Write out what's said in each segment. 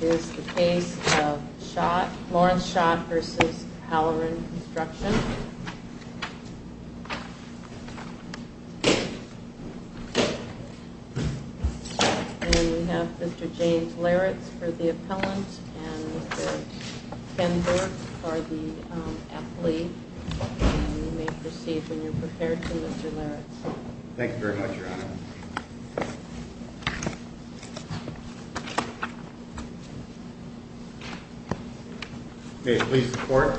Is the case of Schott, Lawrence Schott v. Halloran Construction And we have Mr. James Laritz for the appellant and Mr. Ken Burke for the athlete And you may proceed when you're prepared to Mr. Laritz Thank you very much Your Honor May it please the Court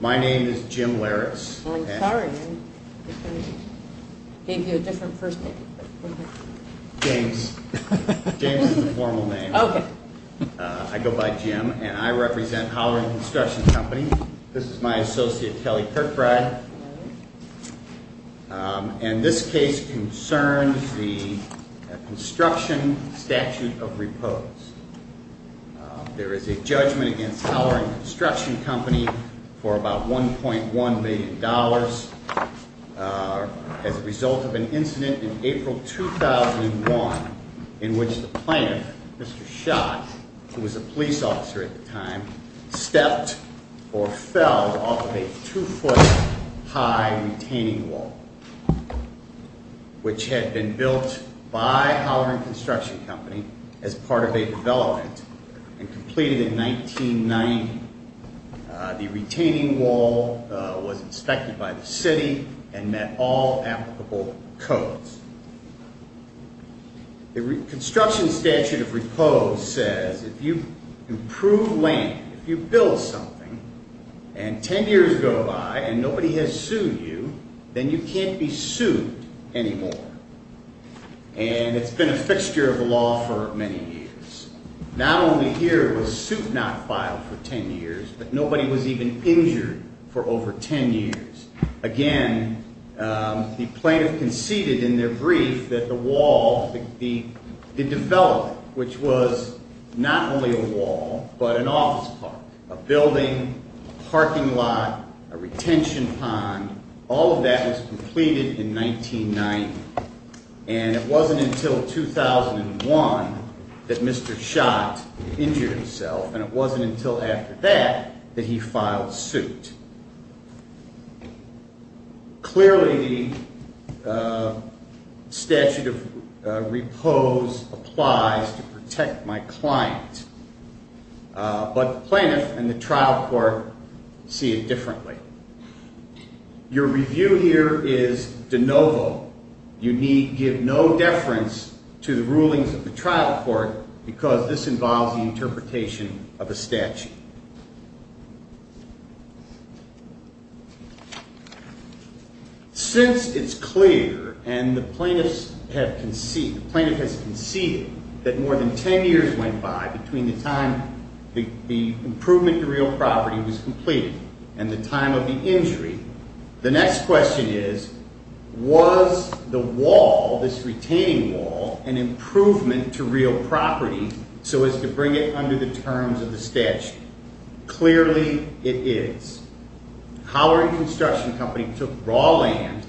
My name is Jim Laritz I'm sorry I gave you a different first name James is the formal name I go by Jim and I represent Halloran Construction Company This is my associate Kelly Kirkbride And this case concerns the construction statute of repose There is a judgment against Halloran Construction Company for about $1.1 million As a result of an incident in April 2001 In which the plaintiff, Mr. Schott, who was a police officer at the time Stepped or fell off of a two-foot high retaining wall Which had been built by Halloran Construction Company as part of a development And completed in 1990 The retaining wall was inspected by the city and met all applicable codes The construction statute of repose says if you approve land If you build something and ten years go by and nobody has sued you Then you can't be sued anymore And it's been a fixture of the law for many years Not only here was suit not filed for ten years But nobody was even injured for over ten years Again, the plaintiff conceded in their brief that the wall, the development Which was not only a wall but an office park A building, a parking lot, a retention pond All of that was completed in 1990 And it wasn't until 2001 that Mr. Schott injured himself And it wasn't until after that that he filed suit Clearly the statute of repose applies to protect my client But the plaintiff and the trial court see it differently Your review here is de novo You need give no deference to the rulings of the trial court Because this involves the interpretation of a statute Since it's clear and the plaintiff has conceded That more than ten years went by between the time The improvement to real property was completed And the time of the injury The next question is Was the wall, this retaining wall, an improvement to real property So as to bring it under the terms of the statute Clearly it is Howard Construction Company took raw land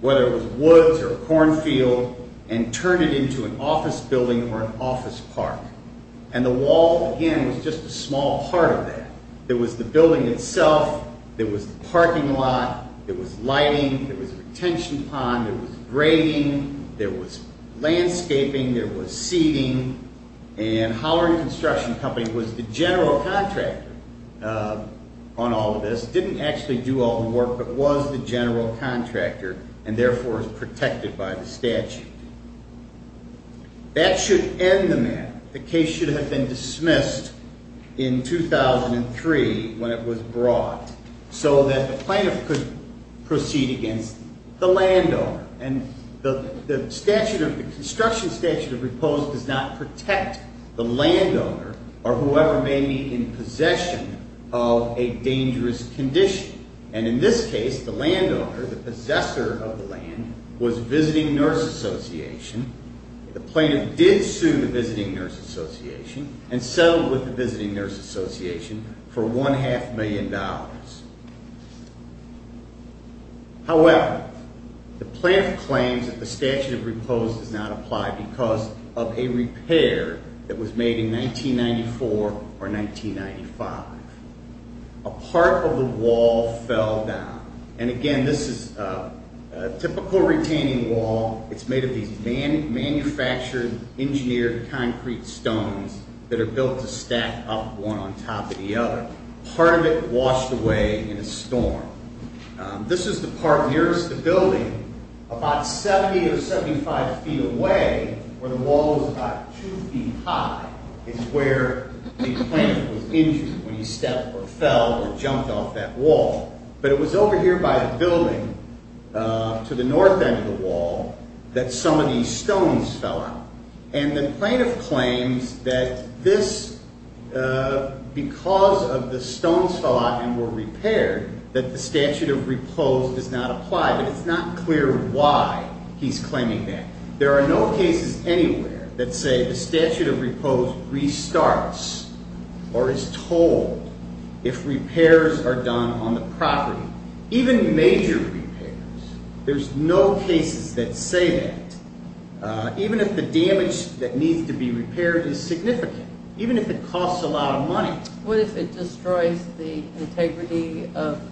Whether it was woods or cornfield And turned it into an office building or an office park And the wall, again, was just a small part of that There was the building itself There was the parking lot There was lighting There was a retention pond There was grading There was landscaping There was seating And Howard Construction Company was the general contractor On all of this Didn't actually do all the work But was the general contractor And therefore is protected by the statute That should end the matter The case should have been dismissed in 2003 When it was brought So that the plaintiff could proceed against the landowner And the construction statute of repose Does not protect the landowner Or whoever may be in possession of a dangerous condition And in this case, the landowner, the possessor of the land Was Visiting Nurse Association The plaintiff did sue the Visiting Nurse Association And settled with the Visiting Nurse Association For one half million dollars However, the plaintiff claims that the statute of repose Does not apply because of a repair That was made in 1994 or 1995 A part of the wall fell down And again, this is a typical retaining wall It's made of these manufactured, engineered concrete stones That are built to stack up one on top of the other Part of it washed away in a storm This is the part nearest the building About 70 or 75 feet away Where the wall was about 2 feet high Is where the plaintiff was injured when he stepped or fell Or jumped off that wall But it was over here by the building To the north end of the wall That some of these stones fell out And the plaintiff claims that this Because of the stones fell out and were repaired That the statute of repose does not apply But it's not clear why he's claiming that There are no cases anywhere that say The statute of repose restarts Or is told if repairs are done on the property Even major repairs There's no cases that say that Even if the damage that needs to be repaired is significant Even if it costs a lot of money What if it destroys the integrity and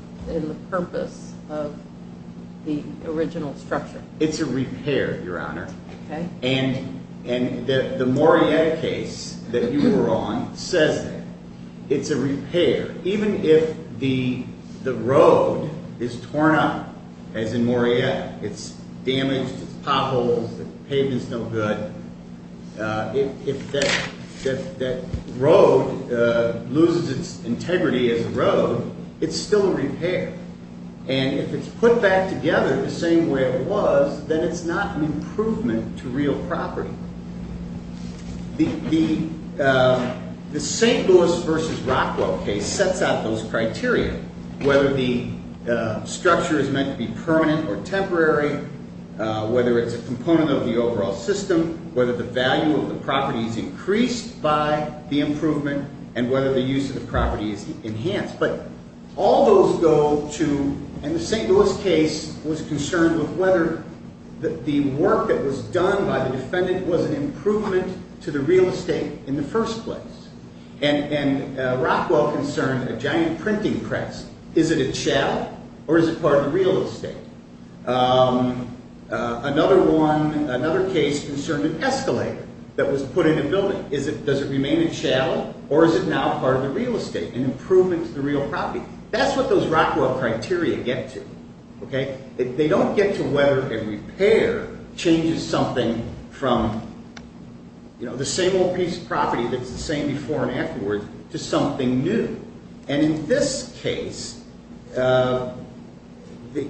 the purpose Of the original structure? It's a repair, Your Honor And the Moriette case that you were on Says that it's a repair Even if the road is torn up As in Moriette, it's damaged, it's potholes The pavement's no good If that road loses its integrity as a road It's still a repair And if it's put back together the same way it was Then it's not an improvement to real property The St. Louis v. Rockwell case sets out those criteria Whether the structure is meant to be permanent or temporary Whether it's a component of the overall system Whether the value of the property is increased by the improvement And whether the use of the property is enhanced But all those go to And the St. Louis case was concerned with whether The work that was done by the defendant Was an improvement to the real estate in the first place And Rockwell concerned a giant printing press Is it a chow or is it part of the real estate? Another case concerned an escalator That was put in a building Does it remain a chow or is it now part of the real estate? An improvement to the real property That's what those Rockwell criteria get to They don't get to whether a repair changes something From the same old piece of property that's the same before and afterwards To something new And in this case As the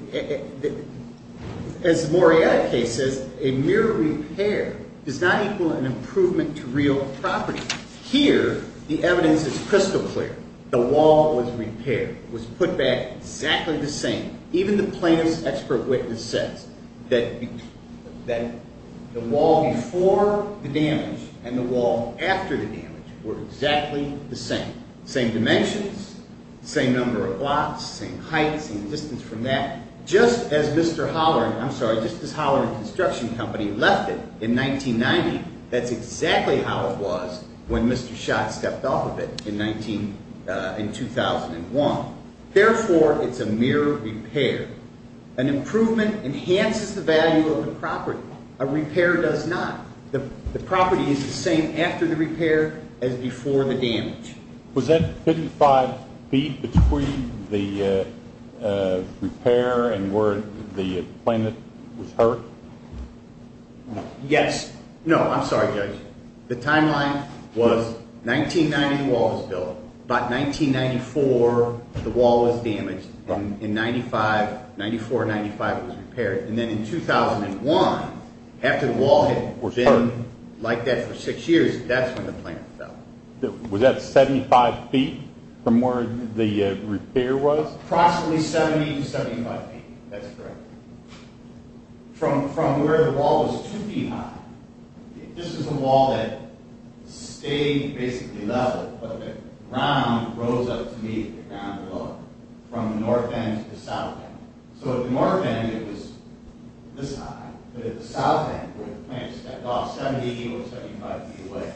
Morietta case says A mere repair does not equal an improvement to real property Here the evidence is crystal clear The wall was repaired It was put back exactly the same Even the plaintiff's expert witness says That the wall before the damage And the wall after the damage were exactly the same Same dimensions, same number of blocks, same height, same distance from that Just as Holleran Construction Company left it in 1990 That's exactly how it was when Mr. Schott stepped off of it in 2001 Therefore it's a mere repair An improvement enhances the value of the property A repair does not The property is the same after the repair as before the damage Was that 55 feet between the repair and where the plaintiff was hurt? Yes No, I'm sorry Judge The timeline was 1990 the wall was built About 1994 the wall was damaged In 94-95 it was repaired And then in 2001 after the wall had been like that for 6 years That's when the plaintiff fell Was that 75 feet from where the repair was? Approximately 70 to 75 feet That's correct From where the wall was 2 feet high This is a wall that stayed basically level But the ground rose up to meet the ground below it From the north end to the south end So at the north end it was this high But at the south end where the plaintiff stepped off It was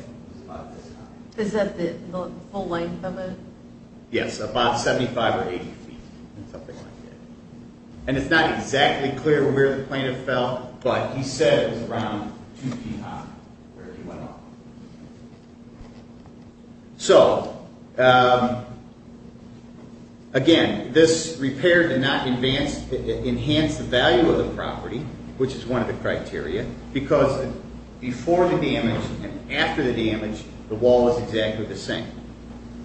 about this high Is that the full length of it? Yes, about 75 or 80 feet And it's not exactly clear where the plaintiff fell But he said it was around 2 feet high Where he went off So, again, this repair did not enhance the value of the property Which is one of the criteria Because before the damage and after the damage The wall was exactly the same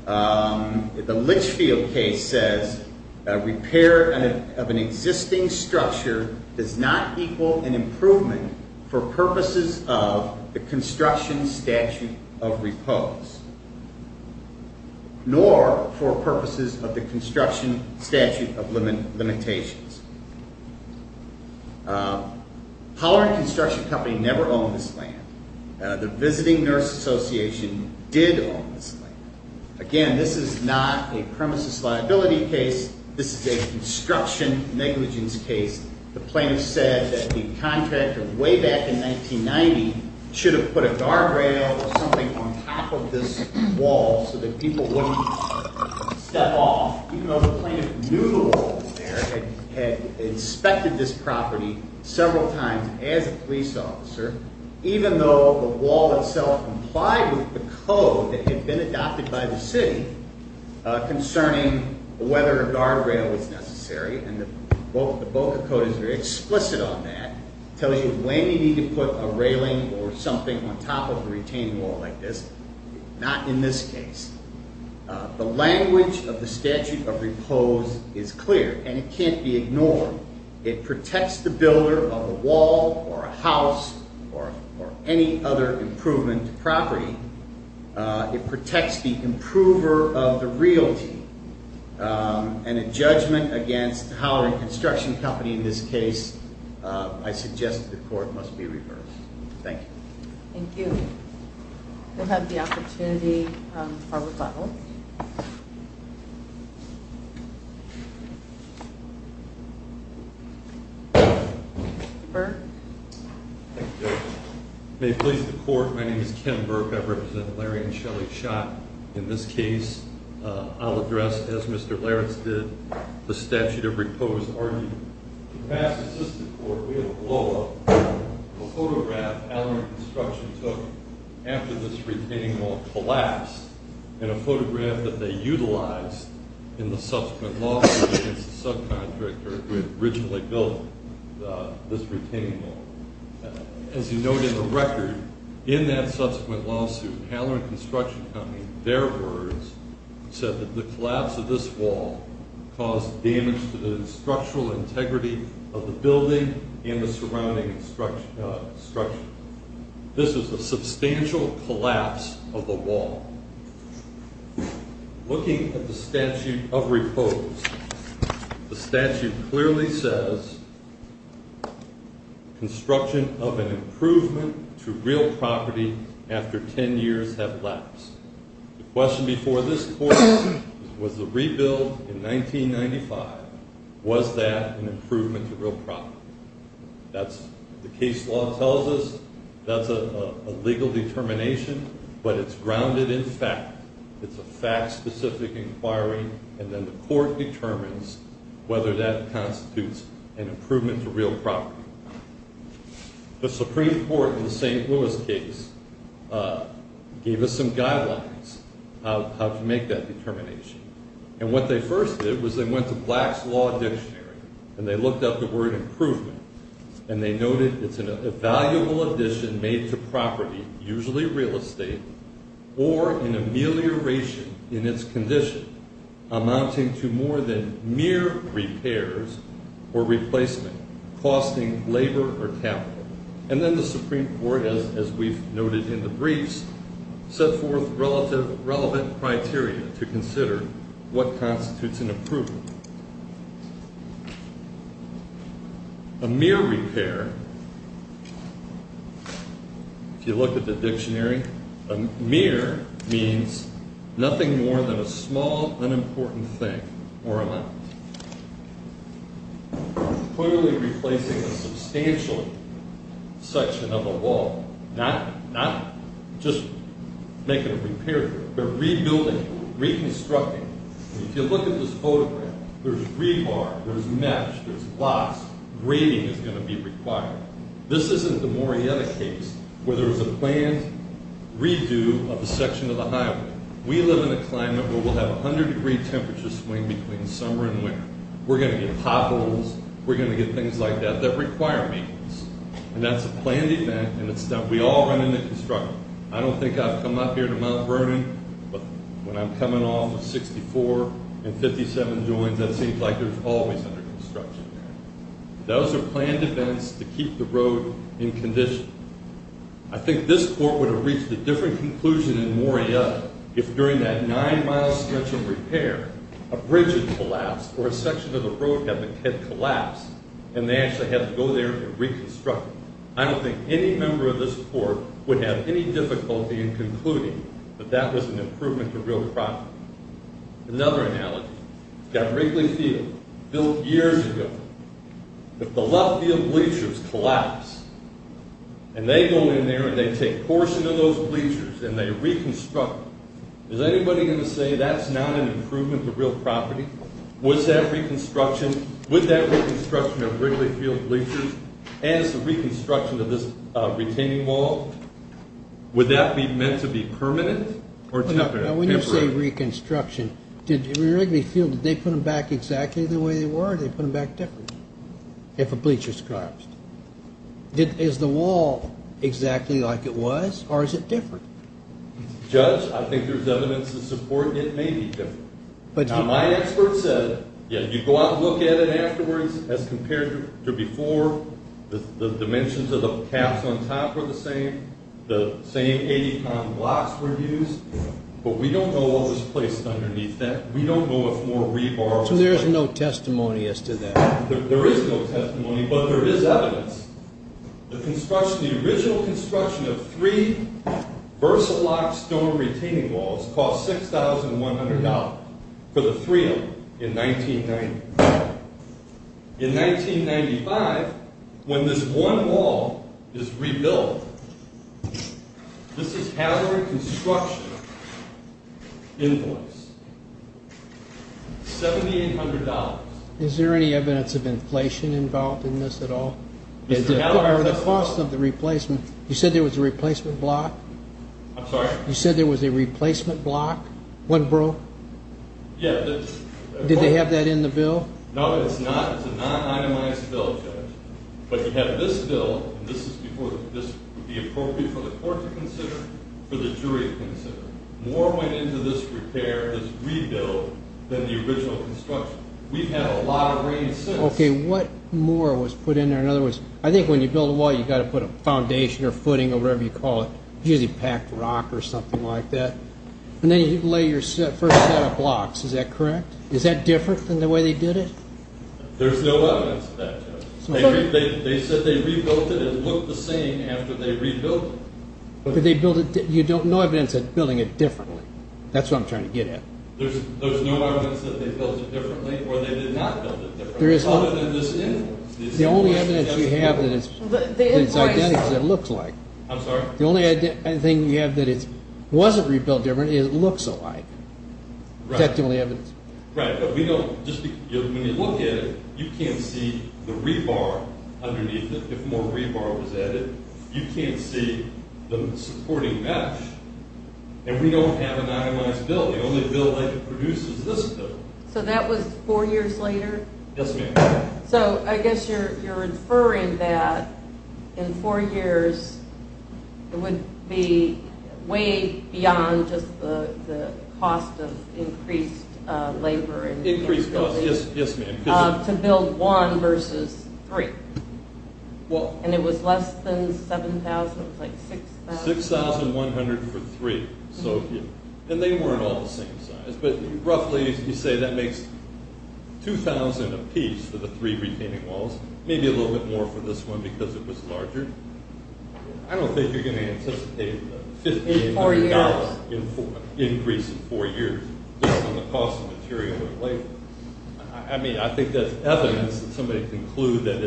The Litchfield case says Repair of an existing structure does not equal an improvement For purposes of the construction statute of repose Nor for purposes of the construction statute of limitations Pollard Construction Company never owned this land The Visiting Nurse Association did own this land Again, this is not a premises liability case This is a construction negligence case The plaintiff said that the contractor way back in 1990 Should have put a guardrail or something on top of this wall So that people wouldn't step off Even though the plaintiff knew the wall was there Had inspected this property several times as a police officer Even though the wall itself complied with the code That had been adopted by the city Concerning whether a guardrail was necessary And the Boca code is very explicit on that Tells you when you need to put a railing or something On top of a retained wall like this Not in this case The language of the statute of repose is clear And it can't be ignored It protects the builder of a wall or a house Or any other improvement to property It protects the improver of the realty And in judgment against Pollard Construction Company in this case I suggest that the court must be reversed Thank you Thank you We'll have the opportunity for rebuttal Burke Thank you May it please the court My name is Ken Burke I represent Larry and Shelly Schott In this case I'll address as Mr. Lawrence did The statute of repose argued In past assistant court We have a blow up A photograph Halloran Construction took After this retaining wall collapsed And a photograph that they utilized In the subsequent lawsuit Against the subcontractor who had originally built This retaining wall As you note in the record In that subsequent lawsuit Halloran Construction Company In their words Said that the collapse of this wall Caused damage to the structural integrity Of the building And the surrounding structure This is a substantial collapse of the wall Looking at the statute of repose The statute clearly says Construction of an improvement to real property After 10 years have lapsed The question before this court Was the rebuild in 1995 Was that an improvement to real property The case law tells us That's a legal determination But it's grounded in fact It's a fact specific inquiry And then the court determines Whether that constitutes an improvement to real property The Supreme Court in the St. Louis case Gave us some guidelines How to make that determination And what they first did Was they went to Black's Law Dictionary And they looked up the word improvement And they noted it's a valuable addition Made to property, usually real estate Or an amelioration in its condition Amounting to more than mere repairs Or replacement Costing labor or capital And then the Supreme Court As we've noted in the briefs Set forth relevant criteria To consider what constitutes an improvement A mere repair If you look at the dictionary A mere means Nothing more than a small unimportant thing Or amount Clearly replacing a substantial section of a wall Not just making a repair But rebuilding, reconstructing If you look at this photograph There's rebar, there's mesh, there's blocks Grading is going to be required This isn't the Morietta case Where there was a planned redo of a section of the highway We live in a climate Where we'll have a 100 degree temperature swing Between summer and winter We're going to get potholes We're going to get things like that That require maintenance And that's a planned event And we all run into construction I don't think I've come up here to Mount Vernon But when I'm coming off of 64 And 57 joins It seems like there's always under construction Those are planned events To keep the road in condition I think this court would have reached a different conclusion In Morietta If during that 9 mile stretch of repair A bridge had collapsed Or a section of the road had collapsed And they actually had to go there and reconstruct it I don't think any member of this court Would have any difficulty in concluding That that was an improvement to real property Another analogy Got Wrigley Field Built years ago If the left field bleachers collapse And they go in there And they take portions of those bleachers And they reconstruct Is anybody going to say That's not an improvement to real property? With that reconstruction Of Wrigley Field bleachers As the reconstruction of this retaining wall Would that be meant to be permanent? Or temporary? When you say reconstruction Did Wrigley Field Did they put them back exactly the way they were? Or did they put them back differently? If a bleacher collapsed Is the wall exactly like it was? Or is it different? Judge, I think there's evidence to support It may be different Now my expert said You go out and look at it afterwards As compared to before The dimensions of the caps on top were the same The same 80 pound blocks were used But we don't know what was placed underneath that We don't know if more rebar was used So there's no testimony as to that? There is no testimony But there is evidence The construction The original construction of three VersaLock stone retaining walls Cost $6,100 For the three of them In 1990 In 1995 When this one wall is rebuilt This is Howard Construction Invoice $7,800 Is there any evidence of inflation involved in this at all? Or the cost of the replacement You said there was a replacement block? I'm sorry? You said there was a replacement block? One broke? Yeah Did they have that in the bill? No it's not It's a non-itemized bill But you have this bill This would be appropriate for the court to consider For the jury to consider More went into this repair This rebuild Than the original construction We've had a lot of rain since Okay, what more was put in there? In other words I think when you build a wall You've got to put a foundation or footing Or whatever you call it Usually packed rock or something like that And then you lay your first set of blocks Is that correct? Is that different than the way they did it? There's no evidence of that They said they rebuilt it It looked the same after they rebuilt it But they built it You don't know evidence of building it differently That's what I'm trying to get at There's no evidence that they built it differently Or they did not build it differently Other than this influence The only evidence you have Is the identity that it looks like I'm sorry? The only thing you have That it wasn't rebuilt differently Is it looks alike That's the only evidence Right, but we don't When you look at it You can't see the rebar underneath it If more rebar was added You can't see the supporting mesh And we don't have an itemized building The only building that produces this building So that was four years later? Yes ma'am So I guess you're inferring that In four years It would be way beyond Just the cost of increased labor Increased cost, yes ma'am To build one versus three And it was less than 7,000 It was like 6,000 6,100 for three And they weren't all the same size But roughly you say that makes 2,000 a piece for the three retaining walls Maybe a little bit more for this one I don't think you're going to anticipate A $1,500 increase in four years Based on the cost of material and labor I mean I think that's evidence That somebody can conclude That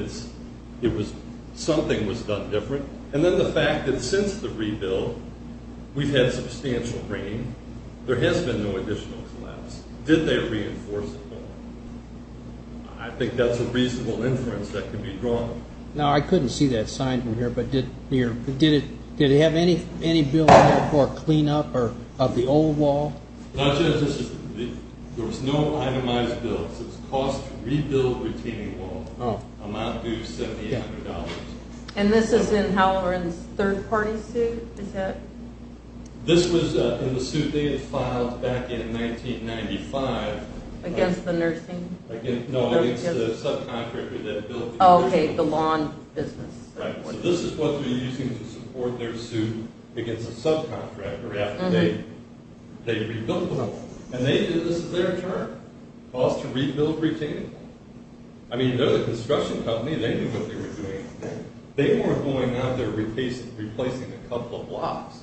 something was done different And then the fact that since the rebuild We've had substantial rain There has been no additional collapse Did they reinforce it more? I think that's a reasonable inference That could be drawn Now I couldn't see that signed in here But did it have any bill For cleanup of the old wall? There was no itemized bill It was cost to rebuild the retaining wall Amount due $7,800 And this is in Halloran's third party suit? Is that? This was in the suit they had filed Back in 1995 Against the nursing? No it's the subcontractor that built Okay the lawn business So this is what they were using To support their suit Against a subcontractor After they rebuilt the wall And they did this at their turn? Cost to rebuild retaining wall? I mean they're the construction company They knew what they were doing They weren't going out there Replacing a couple of blocks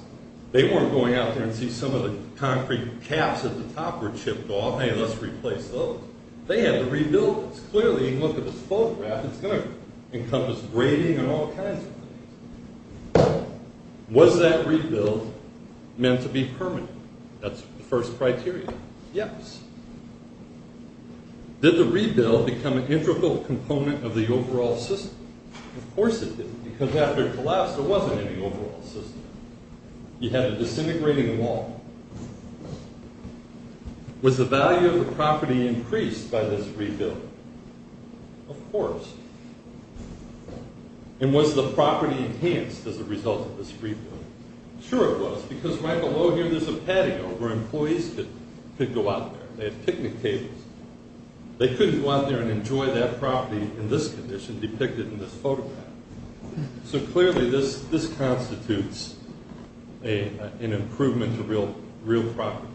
They weren't going out there And see some of the concrete caps At the top were chipped off Hey let's replace those They had to rebuild this Clearly look at this photograph It's going to encompass Braiding and all kinds of things Was that rebuild Meant to be permanent? That's the first criteria Yes Did the rebuild Become an integral component Of the overall system? Of course it did Because after it collapsed There wasn't any overall system You had to disintegrate the wall Was the value of the property Increased by this rebuild? Of course And was the property enhanced As a result of this rebuild? Sure it was Because right below here There's a patio Where employees could go out there They had picnic tables They could go out there And enjoy that property In this condition Depicted in this photograph So clearly this constitutes An improvement to real property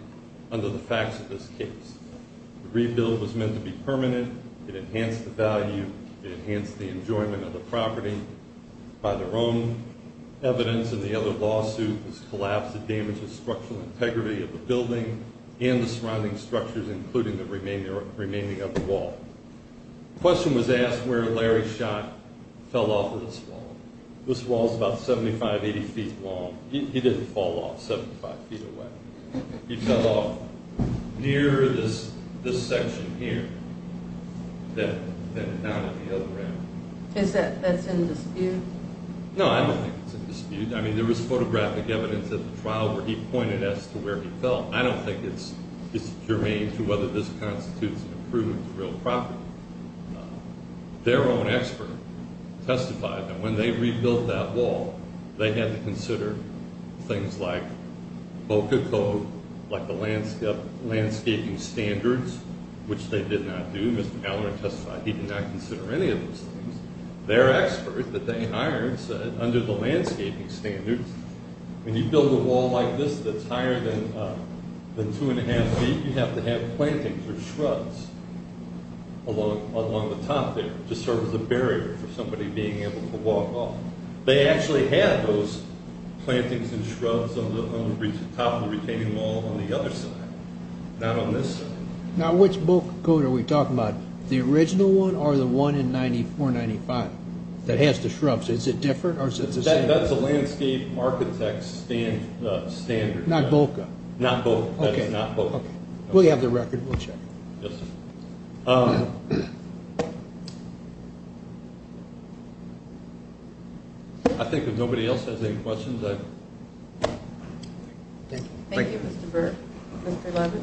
Under the facts of this case The rebuild was meant to be permanent It enhanced the value It enhanced the enjoyment Of the property By their own evidence In the other lawsuit This collapsed It damaged the structural integrity Of the building And the surrounding structures Including the remaining of the wall The question was asked Where Larry Schott Fell off of this wall This wall is about 75, 80 feet long He didn't fall off 75 feet away He fell off near this section here And not at the other end Is that, that's in dispute? No I don't think it's in dispute I mean there was photographic evidence At the trial where he pointed As to where he fell I don't think it's It's germane to whether this constitutes An improvement to real property Their own expert testified That when they rebuilt that wall They had to consider Things like VOCA code Like the landscaping standards Which they did not do Mr. Halloran testified He did not consider any of those things Their expert that they hired Said under the landscaping standards When you build a wall like this That's higher than two and a half feet You have to have plantings or shrubs Along the top there To serve as a barrier For somebody being able to walk off They actually had those Plantings and shrubs On the top of the retaining wall On the other side Not on this side Now which VOCA code Are we talking about The original one Or the one in 94-95 That has the shrubs Is it different Or is it the same That's the landscape architect standard Not VOCA Not VOCA That is not VOCA We'll have the record We'll check I think if nobody else Has any questions Thank you Thank you Mr. Burke Mr. Levitt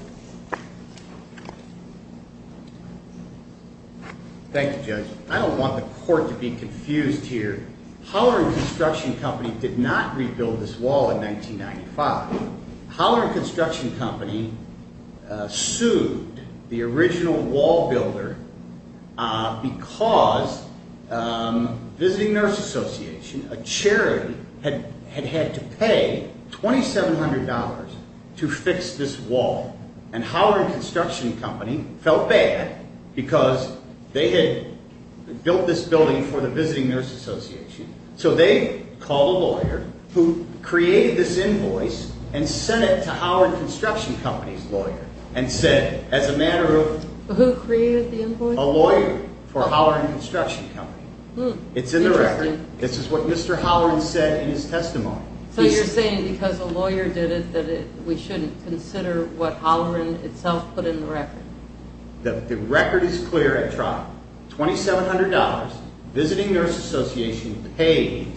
Thank you Judge I don't want the court To be confused here Howard Construction Company Did not rebuild this wall in 1995 Howard Construction Company Sued the original wall builder Because Visiting Nurse Association A charity Had had to pay $2,700 To fix this wall And Howard Construction Company Felt bad Because They had Built this building For the Visiting Nurse Association So they Called a lawyer Who created this invoice And sent it to Howard Construction Company's lawyer And said As a matter of Who created the invoice A lawyer For Howard Construction Company It's in the record This is what Mr. Howard said In his testimony So you're saying Because a lawyer did it That we shouldn't consider What Howard itself Put in the record The record is clear I tried $2,700 Visiting Nurse Association Paid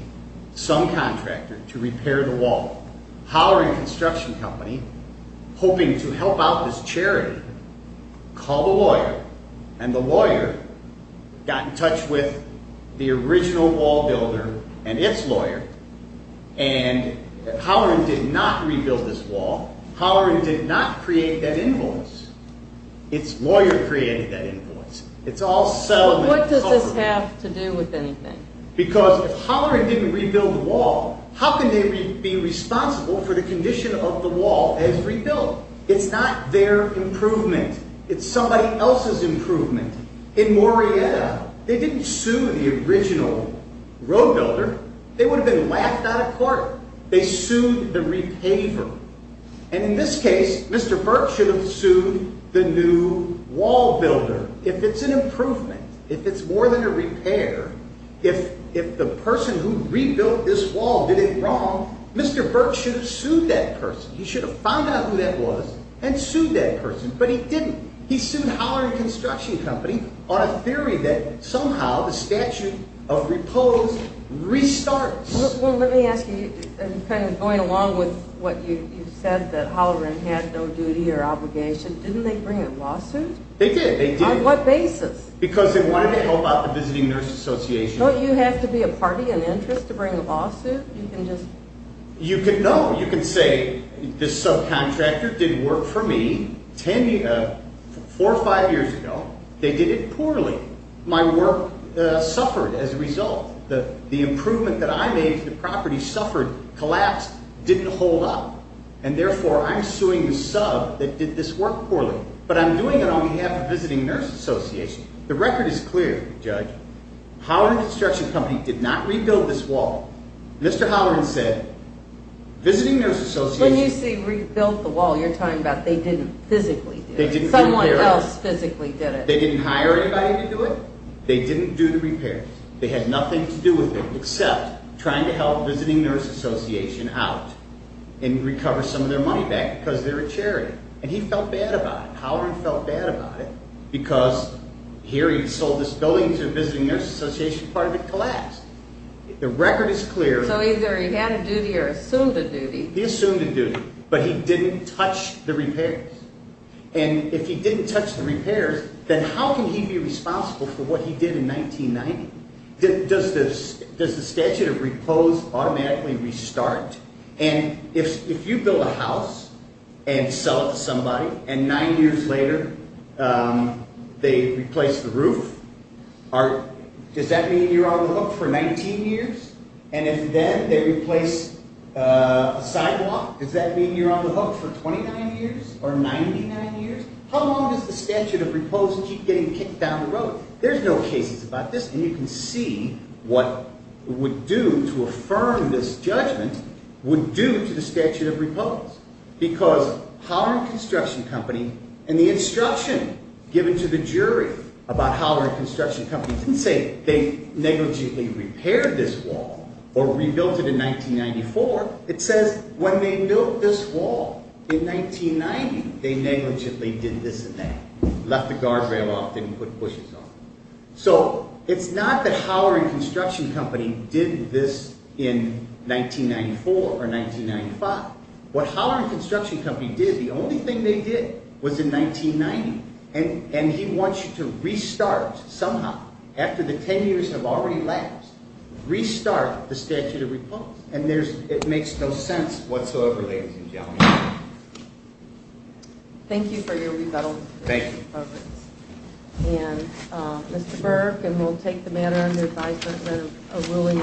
some contractor To repair the wall Howard Construction Company Hoping to help out this charity Called a lawyer And the lawyer Got in touch with The original wall builder And it's lawyer And Howard did not rebuild this wall Howard did not Create that invoice It's lawyer Created that invoice It's all settlement What does this have To do with anything? Because if Howard Didn't rebuild the wall How can they be Responsible for the condition Of the wall As rebuilt? It's not their Improvement It's somebody else's Improvement In Morietta They didn't sue The original Road builder They would have been Laughed out of court They sued The repayer And in this case Mr. Burke should have sued The new wall builder If it's an improvement If it's more than a repair If the person who Rebuilt this wall Did it wrong Mr. Burke should have sued That person He should have found out Who that was And sued that person But he didn't He sued Howard Construction Company On a theory that Somehow the statute Of repose Restarts Well let me ask you Going along with What you said That Holleran Had no duty Or obligation Didn't they bring A lawsuit? They did On what basis? Because they wanted to Help out the Visiting Nurse Association Don't you have to be A party in interest To bring a lawsuit? You can just You can know You can say This subcontractor Did work for me Four or five years ago They did it poorly My work suffered As a result The improvement That I made To the property Suffered Collapsed Didn't hold up And therefore I'm suing the sub That did this work poorly But I'm doing it On behalf of The Visiting Nurse Association The record is clear Judge Howard Construction Company Did not rebuild this wall Mr. Holleran said Visiting Nurse Association When you say Rebuilt the wall You're talking about They didn't physically do it They didn't repair it Someone else physically did it They didn't hire anybody To do it They didn't do the repairs They had nothing To do with it Except Trying to help Visiting Nurse Association Out And recover Some of their money back Because they're a charity And he felt bad about it Howard felt bad about it Because Here he sold this building To the Visiting Nurse Association Part of it collapsed The record is clear So either he had a duty Or assumed a duty He assumed a duty And if he didn't touch The repairs Then how can he Be responsible For what he did In 1990 Does the statute Affirm that Mr. Holleran Didn't touch The repairs Does the statute Of repose Automatically restart And if You build a house And sell it to somebody And nine years later They replace the roof Does that mean You're on the hook For 19 years And if then They replace A sidewalk Does that mean You're on the hook For 29 years Or 99 years How long Does the statute Of repose Keep getting Kicked down the road There's no cases About this And you can see What Would do To affirm This judgment Would do To the statute Of repose Because Holleran Construction Company And the instruction Given to the jury About Holleran Construction Company Didn't say They negligently Repaired this wall Or rebuilt it In 1994 It says When they built This wall In 1990 They negligently Did this and that Left the guardrail Off Didn't put bushes on So It's not that Holleran Construction Company Did this In 1994 Or 1995 What Holleran Construction Company Did The only thing They did Was in 1990 And he wants You to Restart Somehow After the 10 years Have already Lasted Restart The statute Of repose And it makes No sense Whatsoever Ladies and gentlemen Thank you for Your rebuttal Thank you And Mr. Burke And we'll take the matter Under advisement of A ruling in due course